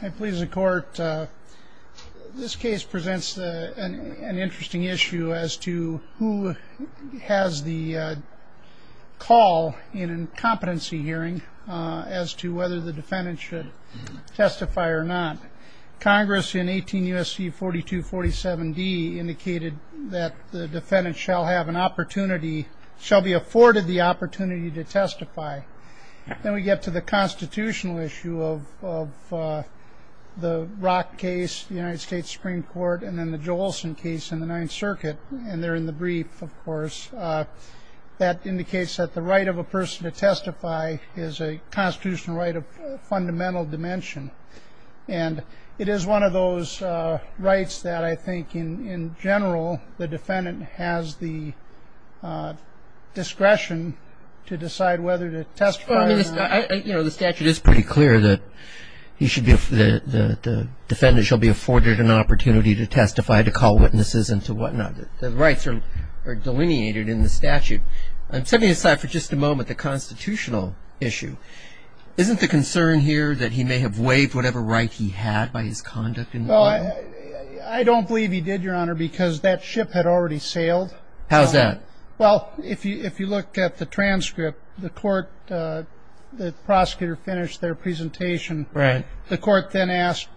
I please the court. This case presents an interesting issue as to who has the call in a competency hearing as to whether the defendant should testify or not. Congress in 18 U.S.C. 4247d indicated that the defendant shall have an opportunity, shall be afforded the opportunity to testify. Then we get to the constitutional issue of the Rock case, the United States Supreme Court, and then the Joelson case in the Ninth Circuit. And there in the brief, of course, that indicates that the right of a person to testify is a constitutional right of fundamental dimension. And it is one of those rights that I think in general the defendant has the discretion to decide whether to testify or not. Well, I mean, you know, the statute is pretty clear that he should be, the defendant shall be afforded an opportunity to testify, to call witnesses and to whatnot. The rights are delineated in the statute. I'm setting aside for just a moment the constitutional issue. Isn't the concern here that he may have waived whatever right he had by his conduct in the court? Well, I don't believe he did, Your Honor, because that ship had already sailed. How's that? Well, if you look at the transcript, the court, the prosecutor finished their presentation. Right. The court then asked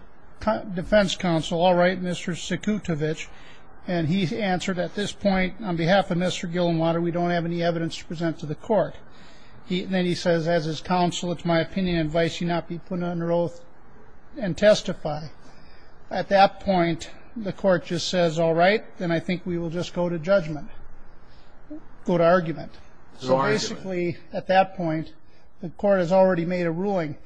defense counsel, all right, Mr. Sakutovich. And he answered at this point, on behalf of Mr. Gillenwater, we don't have any evidence to present to the court. And then he says, as his counsel, it's my opinion and advice he not be put under oath and testify. At that point, the court just says, all right, then I think we will just go to judgment, go to argument. Go to argument. So basically at that point, the court has already made a ruling.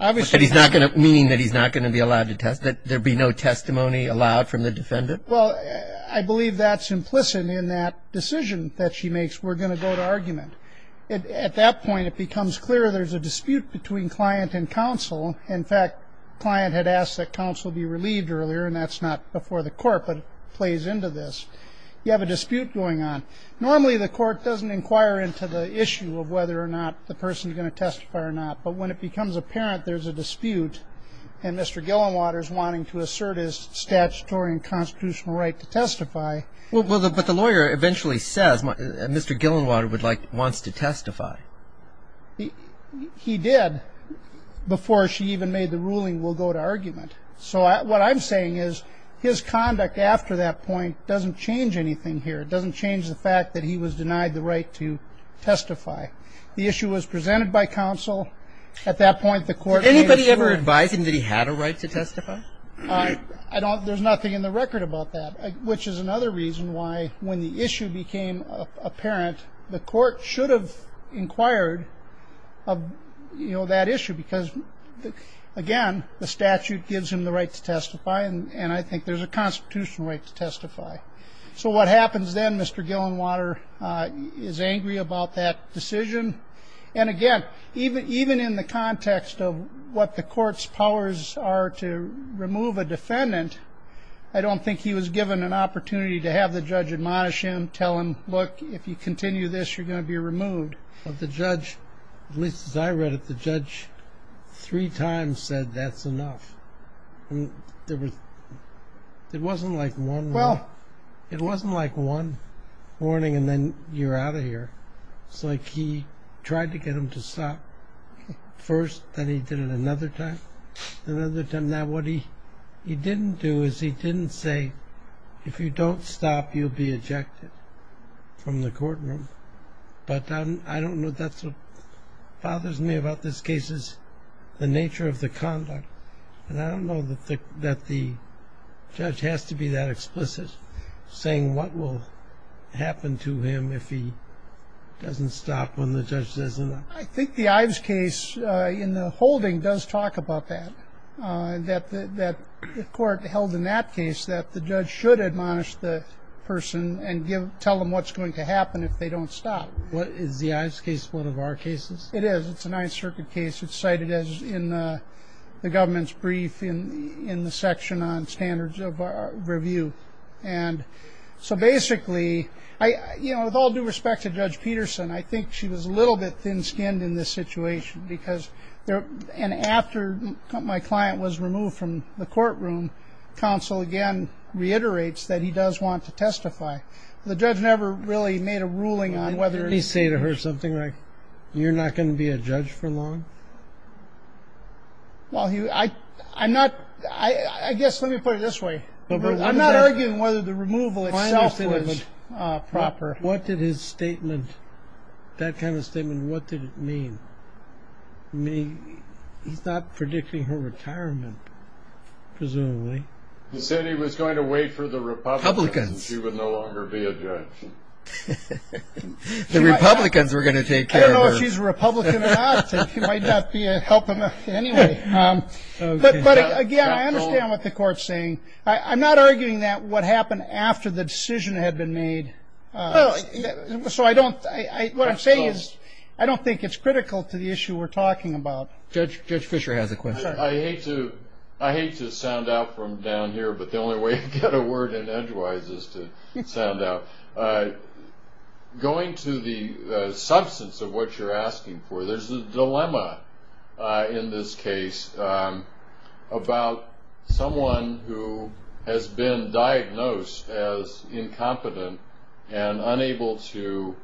Meaning that he's not going to be allowed to testify, that there be no testimony allowed from the defendant? Well, I believe that's implicit in that decision that she makes. We're going to go to argument. At that point, it becomes clear there's a dispute between client and counsel. In fact, client had asked that counsel be relieved earlier, and that's not before the court, but it plays into this. You have a dispute going on. Normally, the court doesn't inquire into the issue of whether or not the person is going to testify or not. But when it becomes apparent there's a dispute and Mr. Gillenwater is wanting to assert his statutory and constitutional right to testify. Well, but the lawyer eventually says Mr. Gillenwater wants to testify. He did before she even made the ruling, we'll go to argument. So what I'm saying is his conduct after that point doesn't change anything here. It doesn't change the fact that he was denied the right to testify. The issue was presented by counsel. At that point, the court made sure. Did anybody ever advise him that he had a right to testify? I don't. There's nothing in the record about that, which is another reason why when the issue became apparent, the court should have inquired of, you know, that issue because, again, the statute gives him the right to testify, and I think there's a constitutional right to testify. So what happens then, Mr. Gillenwater is angry about that decision. And, again, even in the context of what the court's powers are to remove a defendant, I don't think he was given an opportunity to have the judge admonish him, tell him, look, if you continue this, you're going to be removed. But the judge, at least as I read it, the judge three times said that's enough. It wasn't like one warning and then you're out of here. It's like he tried to get him to stop first, then he did it another time, another time. Now what he didn't do is he didn't say if you don't stop, you'll be ejected from the courtroom. But I don't know. That's what bothers me about this case is the nature of the conduct. And I don't know that the judge has to be that explicit, saying what will happen to him if he doesn't stop when the judge says enough. I think the Ives case in the holding does talk about that, that the court held in that case that the judge should admonish the person and tell them what's going to happen if they don't stop. Is the Ives case one of our cases? It is. It's a Ninth Circuit case. It's cited in the government's brief in the section on standards of review. And so basically, you know, with all due respect to Judge Peterson, I think she was a little bit thin-skinned in this situation. And after my client was removed from the courtroom, counsel again reiterates that he does want to testify. The judge never really made a ruling on whether. Did he say to her something like, you're not going to be a judge for long? Well, I guess let me put it this way. I'm not arguing whether the removal itself was proper. What did his statement, that kind of statement, what did it mean? I mean, he's not predicting her retirement, presumably. He said he was going to wait for the Republicans and she would no longer be a judge. The Republicans were going to take care of her. I don't know if she's a Republican or not. It might not help him anyway. But again, I understand what the court's saying. I'm not arguing that what happened after the decision had been made. So what I'm saying is I don't think it's critical to the issue we're talking about. Judge Fischer has a question. I hate to sound out from down here, but the only way to get a word in edgewise is to sound out. Going to the substance of what you're asking for, there's a dilemma in this case about someone who has been diagnosed as incompetent and unable to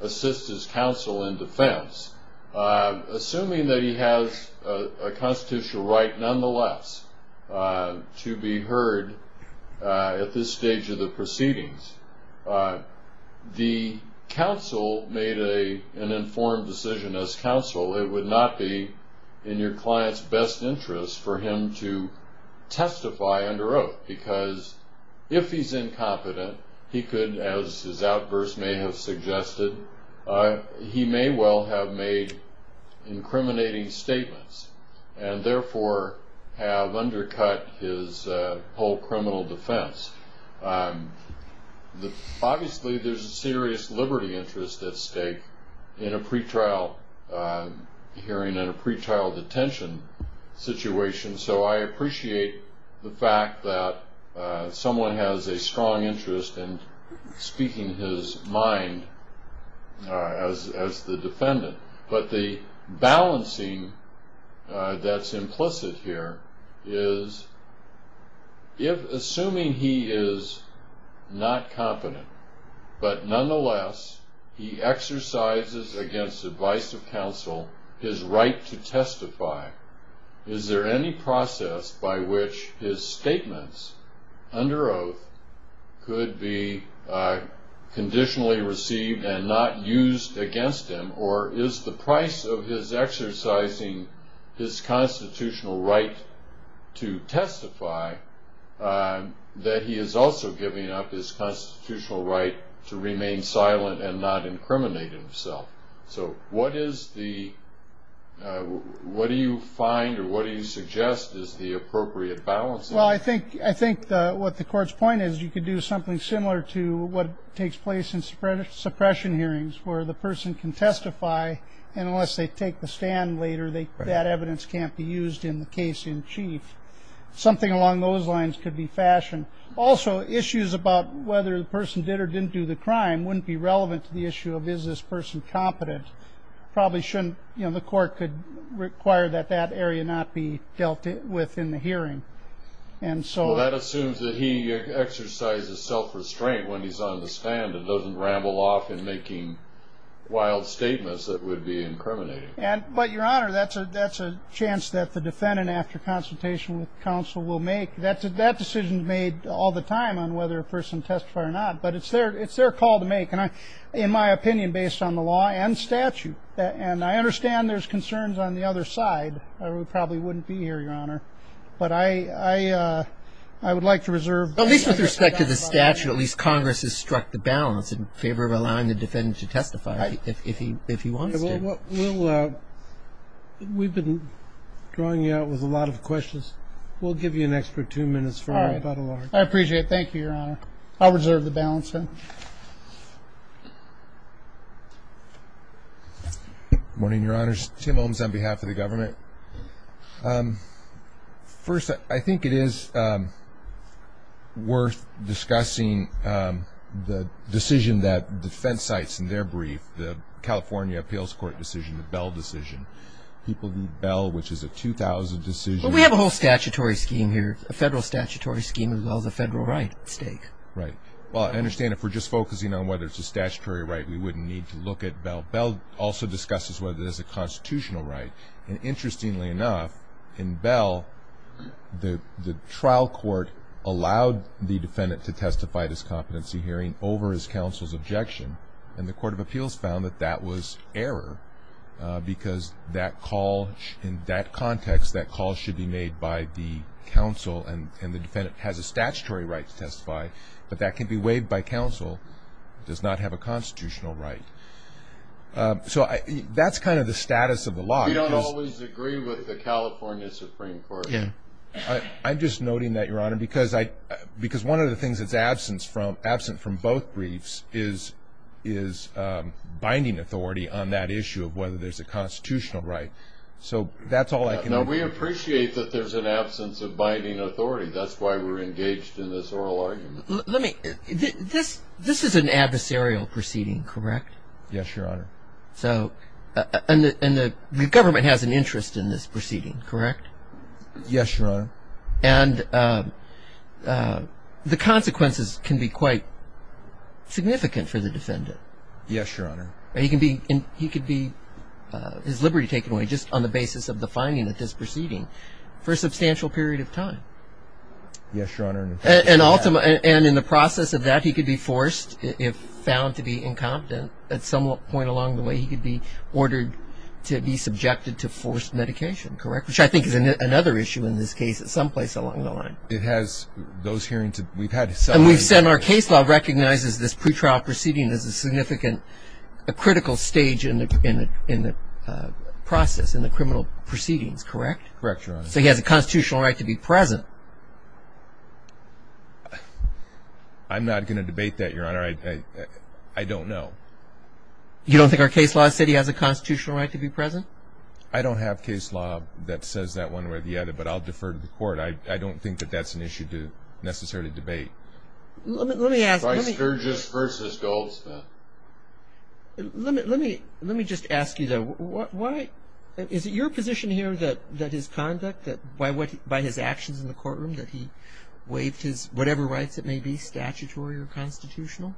assist his counsel in defense. Assuming that he has a constitutional right, nonetheless, to be heard at this stage of the proceedings, the counsel made an informed decision as counsel. It would not be in your client's best interest for him to testify under oath, because if he's incompetent, he could, as his outburst may have suggested, he may well have made incriminating statements and therefore have undercut his whole criminal defense. Obviously, there's a serious liberty interest at stake in a pre-trial hearing, in a pre-trial detention situation. So I appreciate the fact that someone has a strong interest in speaking his mind as the defendant. But the balancing that's implicit here is, assuming he is not competent, but nonetheless he exercises against the advice of counsel his right to testify, is there any process by which his statements under oath could be conditionally received and not used against him? Or is the price of his exercising his constitutional right to testify that he is also giving up his constitutional right to remain silent and not incriminate himself? So what do you find or what do you suggest is the appropriate balancing? Well, I think what the Court's point is, you could do something similar to what takes place in suppression hearings, where the person can testify, and unless they take the stand later, that evidence can't be used in the case in chief. Something along those lines could be fashioned. Also, issues about whether the person did or didn't do the crime wouldn't be relevant to the issue of, is this person competent? The Court could require that that area not be dealt with in the hearing. Well, that assumes that he exercises self-restraint when he's on the stand and doesn't ramble off in making wild statements that would be incriminating. But, Your Honor, that's a chance that the defendant, after consultation with counsel, will make. That decision is made all the time on whether a person testifies or not, but it's their call to make. In my opinion, based on the law and statute, and I understand there's concerns on the other side, we probably wouldn't be here, Your Honor, but I would like to reserve the right to talk about that. At least with respect to the statute, at least Congress has struck the balance in favor of allowing the defendant to testify if he wants to. We've been drawing you out with a lot of questions. We'll give you an extra two minutes for about a large part. I appreciate it. Thank you, Your Honor. I'll reserve the balance then. Good morning, Your Honors. Tim Holmes on behalf of the government. First, I think it is worth discussing the decision that defense cites in their brief, the California Appeals Court decision, the Bell decision. People need Bell, which is a 2000 decision. Well, we have a whole statutory scheme here, a federal statutory scheme as well as a federal right at stake. Right. Well, I understand if we're just focusing on whether it's a statutory right, we wouldn't need to look at Bell. Bell also discusses whether it is a constitutional right, and interestingly enough, in Bell, the trial court allowed the defendant to testify at his competency hearing over his counsel's objection, and the Court of Appeals found that that was error because that call, in that context, that call should be made by the counsel and the defendant has a statutory right to testify, but that can be waived by counsel, does not have a constitutional right. So that's kind of the status of the law. We don't always agree with the California Supreme Court. I'm just noting that, Your Honor, because one of the things that's absent from both briefs is binding authority on that issue of whether there's a constitutional right. So that's all I can do. Now, we appreciate that there's an absence of binding authority. That's why we're engaged in this oral argument. This is an adversarial proceeding, correct? Yes, Your Honor. And the government has an interest in this proceeding, correct? Yes, Your Honor. And the consequences can be quite significant for the defendant. Yes, Your Honor. He could be his liberty taken away just on the basis of the finding of this proceeding for a substantial period of time. Yes, Your Honor. And in the process of that, he could be forced, if found to be incompetent, at some point along the way he could be ordered to be subjected to forced medication, correct, which I think is another issue in this case someplace along the line. It has those hearings. And we've said our case law recognizes this pretrial proceeding as a significant, a critical stage in the process, in the criminal proceedings, correct? Correct, Your Honor. So he has a constitutional right to be present. I'm not going to debate that, Your Honor. I don't know. You don't think our case law said he has a constitutional right to be present? I don't have case law that says that one way or the other, but I'll defer to the court. I don't think that that's an issue to necessarily debate. Let me ask. Strictest versus Goldsmith. Let me just ask you, though. Is it your position here that his conduct, by his actions in the courtroom, that he waived whatever rights it may be, statutory or constitutional?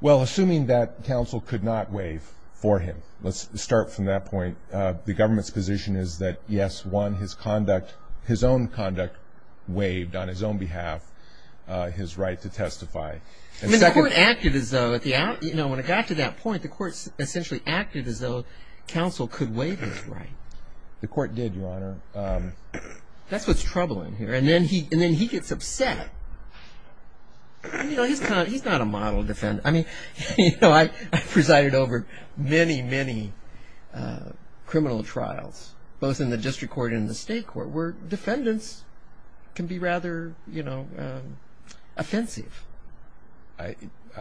Well, assuming that counsel could not waive for him. Let's start from that point. The government's position is that, yes, one, his conduct, his own conduct, waived on his own behalf his right to testify. The court acted as though, you know, when it got to that point, the court essentially acted as though counsel could waive his right. The court did, Your Honor. That's what's troubling here. And then he gets upset. You know, he's not a model defendant. I mean, you know, I presided over many, many criminal trials, both in the district court and in the state court, where defendants can be rather, you know, offensive. I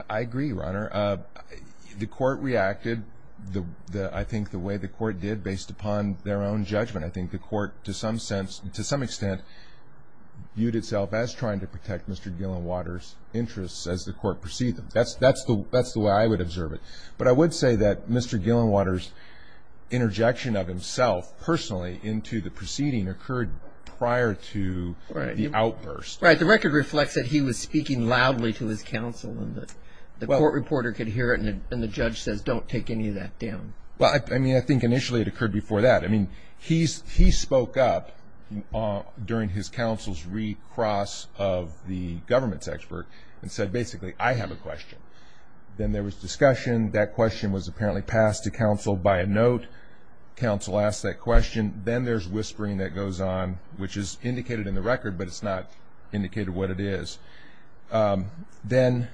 agree, Your Honor. The court reacted, I think, the way the court did based upon their own judgment. I think the court, to some sense, to some extent, viewed itself as trying to protect Mr. Gillenwater's interests as the court perceived them. That's the way I would observe it. But I would say that Mr. Gillenwater's interjection of himself personally into the proceeding occurred prior to the outburst. Right. The record reflects that he was speaking loudly to his counsel and the court reporter could hear it and the judge says, don't take any of that down. Well, I mean, I think initially it occurred before that. I mean, he spoke up during his counsel's recross of the government's expert and said, basically, I have a question. Then there was discussion. That question was apparently passed to counsel by a note. Counsel asked that question. Then there's whispering that goes on, which is indicated in the record, but it's not indicated what it is. Then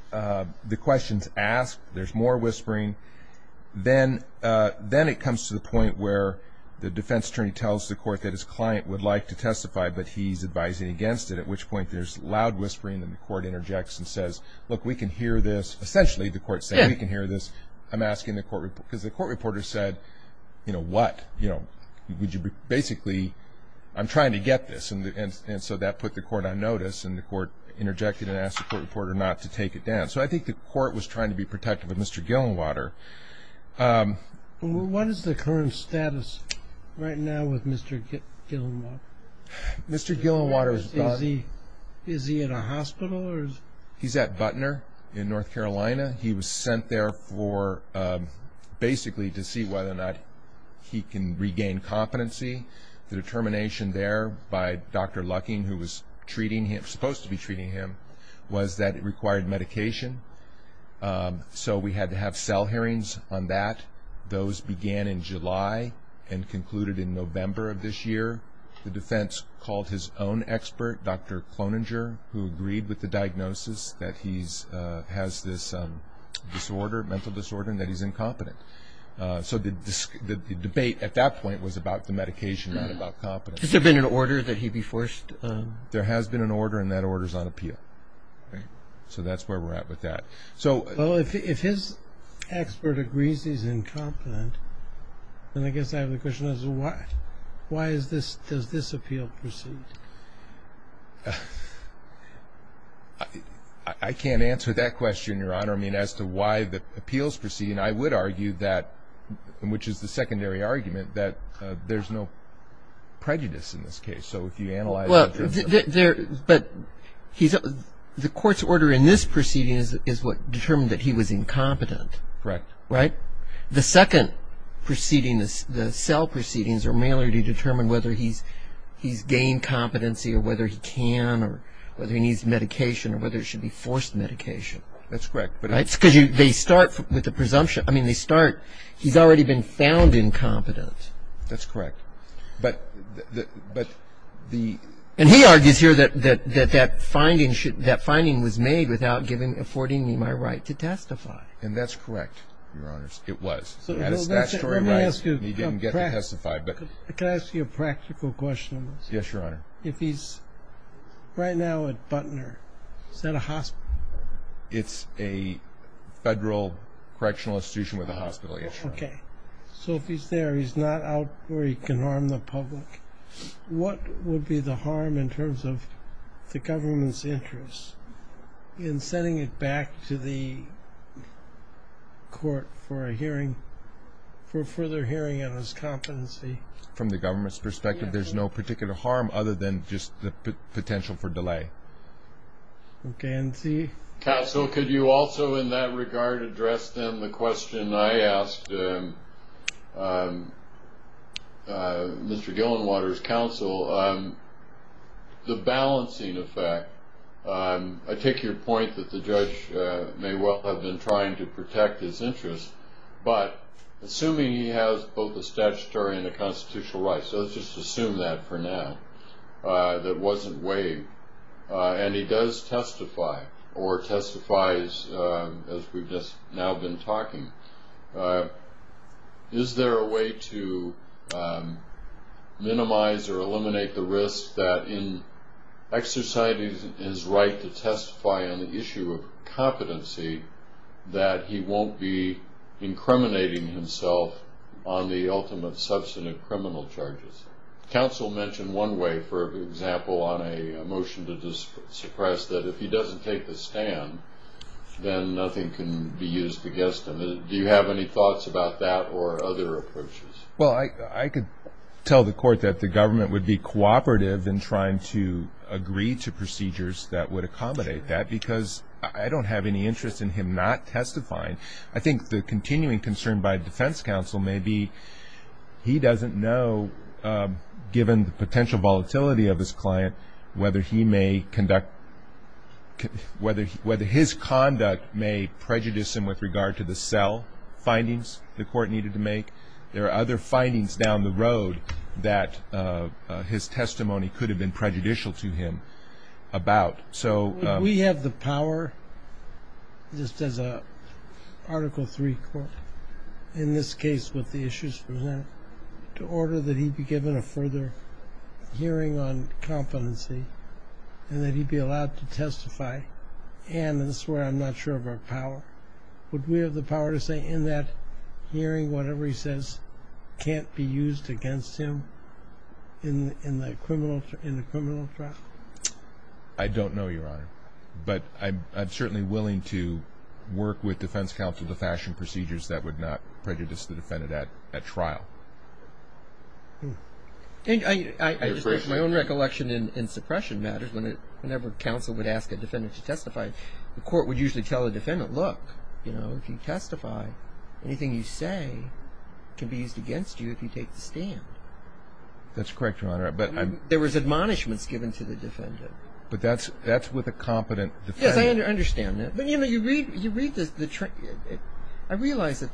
the question's asked. There's more whispering. Then it comes to the point where the defense attorney tells the court that his client would like to testify, but he's advising against it, at which point there's loud whispering. Then the court interjects and says, look, we can hear this. Essentially, the court's saying, we can hear this. I'm asking the court reporter, because the court reporter said, you know, what? You know, basically, I'm trying to get this. And so that put the court on notice, and the court interjected and asked the court reporter not to take it down. So I think the court was trying to be protective of Mr. Gillenwater. What is the current status right now with Mr. Gillenwater? Mr. Gillenwater is gone. Is he in a hospital? He's at Butner in North Carolina. He was sent there for basically to see whether or not he can regain competency. The determination there by Dr. Lucking, who was treating him, supposed to be treating him, was that it required medication. So we had to have cell hearings on that. Those began in July and concluded in November of this year. The defense called his own expert, Dr. Cloninger, who agreed with the diagnosis that he has this disorder, mental disorder, and that he's incompetent. So the debate at that point was about the medication, not about competency. Has there been an order that he be forced? There has been an order, and that order is on appeal. So that's where we're at with that. Well, if his expert agrees he's incompetent, then I guess I have a question as to why does this appeal proceed? I can't answer that question, Your Honor. I mean, as to why the appeals proceed, I would argue that, which is the secondary argument, that there's no prejudice in this case. Well, but the court's order in this proceeding is what determined that he was incompetent. Correct. Right? The second proceeding, the cell proceedings, are mainly to determine whether he's gained competency or whether he can or whether he needs medication or whether it should be forced medication. That's correct. Right? Because they start with the presumption. I mean, they start, he's already been found incompetent. That's correct. But the ---- And he argues here that that finding was made without affording me my right to testify. And that's correct, Your Honors. It was. Let me ask you a practical question. Yes, Your Honor. If he's right now at Butner, is that a hospital? It's a federal correctional institution with a hospital, yes, Your Honor. Okay. So if he's there, he's not out where he can harm the public, what would be the harm in terms of the government's interest in sending it back to the court for a hearing, for a further hearing on his competency? From the government's perspective, there's no particular harm other than just the potential for delay. Okay. Counsel, could you also in that regard address then the question I asked Mr. Gillenwater's counsel, the balancing effect? I take your point that the judge may well have been trying to protect his interests, but assuming he has both a statutory and a constitutional right, so let's just assume that for now, that wasn't waived, and he does testify or testifies, as we've just now been talking, is there a way to minimize or eliminate the risk that in exercising his right to testify on the issue of competency, that he won't be incriminating himself on the ultimate substantive criminal charges? Counsel mentioned one way, for example, on a motion to suppress, that if he doesn't take the stand, then nothing can be used against him. Do you have any thoughts about that or other approaches? Well, I could tell the court that the government would be cooperative in trying to agree to procedures that would accommodate that because I don't have any interest in him not testifying. I think the continuing concern by defense counsel may be he doesn't know, given the potential volatility of his client, whether his conduct may prejudice him with regard to the cell findings the court needed to make. There are other findings down the road that his testimony could have been prejudicial to him about. Would we have the power, just as an Article III court, in this case with the issues presented, to order that he be given a further hearing on competency and that he be allowed to testify? And this is where I'm not sure of our power. Would we have the power to say in that hearing whatever he says can't be used against him in a criminal trial? I don't know, Your Honor. But I'm certainly willing to work with defense counsel to fashion procedures that would not prejudice the defendant at trial. I just have my own recollection in suppression matters. Whenever counsel would ask a defendant to testify, the court would usually tell the defendant, look, if you testify, anything you say can be used against you if you take the stand. That's correct, Your Honor. There was admonishments given to the defendant. But that's with a competent defendant. Yes, I understand that. But, you know, you read the trial. I realize that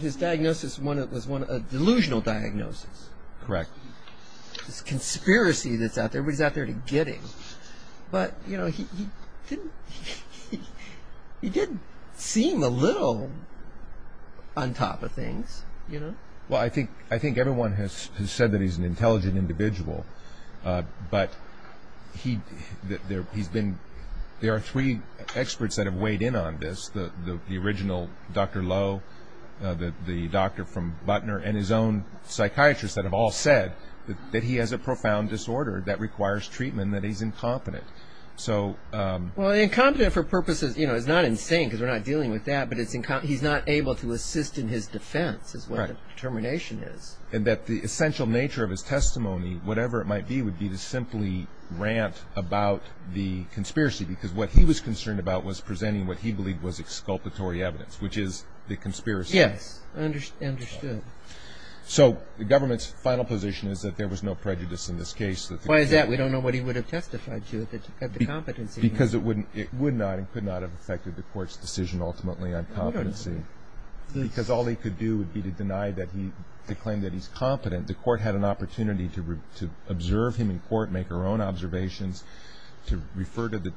his diagnosis was a delusional diagnosis. Correct. It's a conspiracy that's out there. Everybody's out there to get him. But, you know, he did seem a little on top of things, you know. Well, I think everyone has said that he's an intelligent individual. But there are three experts that have weighed in on this, the original Dr. Lowe, the doctor from Butner, and his own psychiatrist that have all said that he has a profound disorder that requires treatment and that he's incompetent. Well, incompetent for purposes, you know, it's not insane because we're not dealing with that, but he's not able to assist in his defense is what the determination is. And that the essential nature of his testimony, whatever it might be, would be to simply rant about the conspiracy because what he was concerned about was presenting what he believed was exculpatory evidence, which is the conspiracy. Yes, understood. So the government's final position is that there was no prejudice in this case. Why is that? We don't know what he would have testified to if he had the competency. Because it would not and could not have affected the court's decision ultimately on competency. Because all he could do would be to claim that he's competent. The court had an opportunity to observe him in court, make their own observations, to refer to the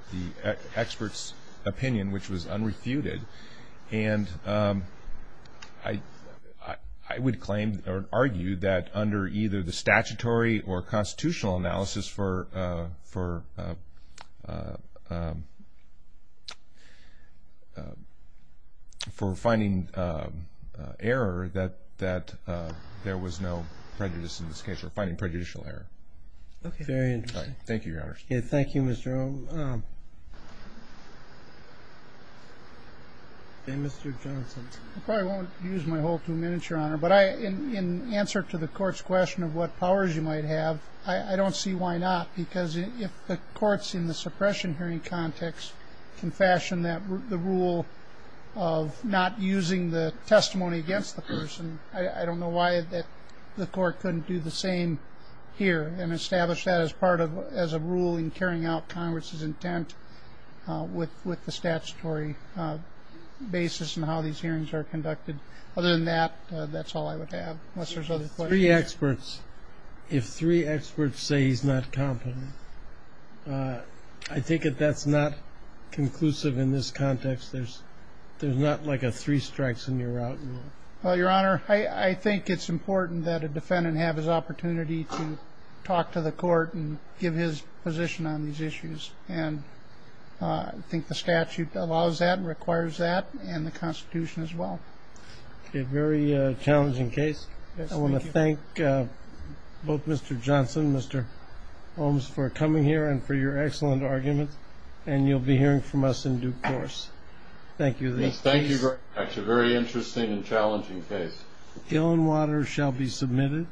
expert's opinion, which was unrefuted. And I would claim or argue that under either the statutory or constitutional analysis for finding error that there was no prejudice in this case or finding prejudicial error. Okay. Very interesting. Thank you, Your Honor. Thank you, Mr. O. Okay. Mr. Johnson. I probably won't use my whole two minutes, Your Honor. But in answer to the court's question of what powers you might have, I don't see why not. Because if the courts in the suppression hearing context can fashion the rule of not using the testimony against the person, I don't know why the court couldn't do the same here and establish that as part of as a rule in carrying out Congress's intent with the statutory basis and how these hearings are conducted. Other than that, that's all I would have, unless there's other questions. Three experts. If three experts say he's not competent, I think that that's not conclusive in this context. There's not like a three strikes and you're out. Well, Your Honor, I think it's important that a defendant have his opportunity to talk to the court and give his position on these issues. And I think the statute allows that and requires that and the Constitution as well. A very challenging case. I want to thank both Mr. Johnson, Mr. Holmes, for coming here and for your excellent argument. And you'll be hearing from us in due course. Thank you. Thank you. That's a very interesting and challenging case. Illinwater shall be submitted.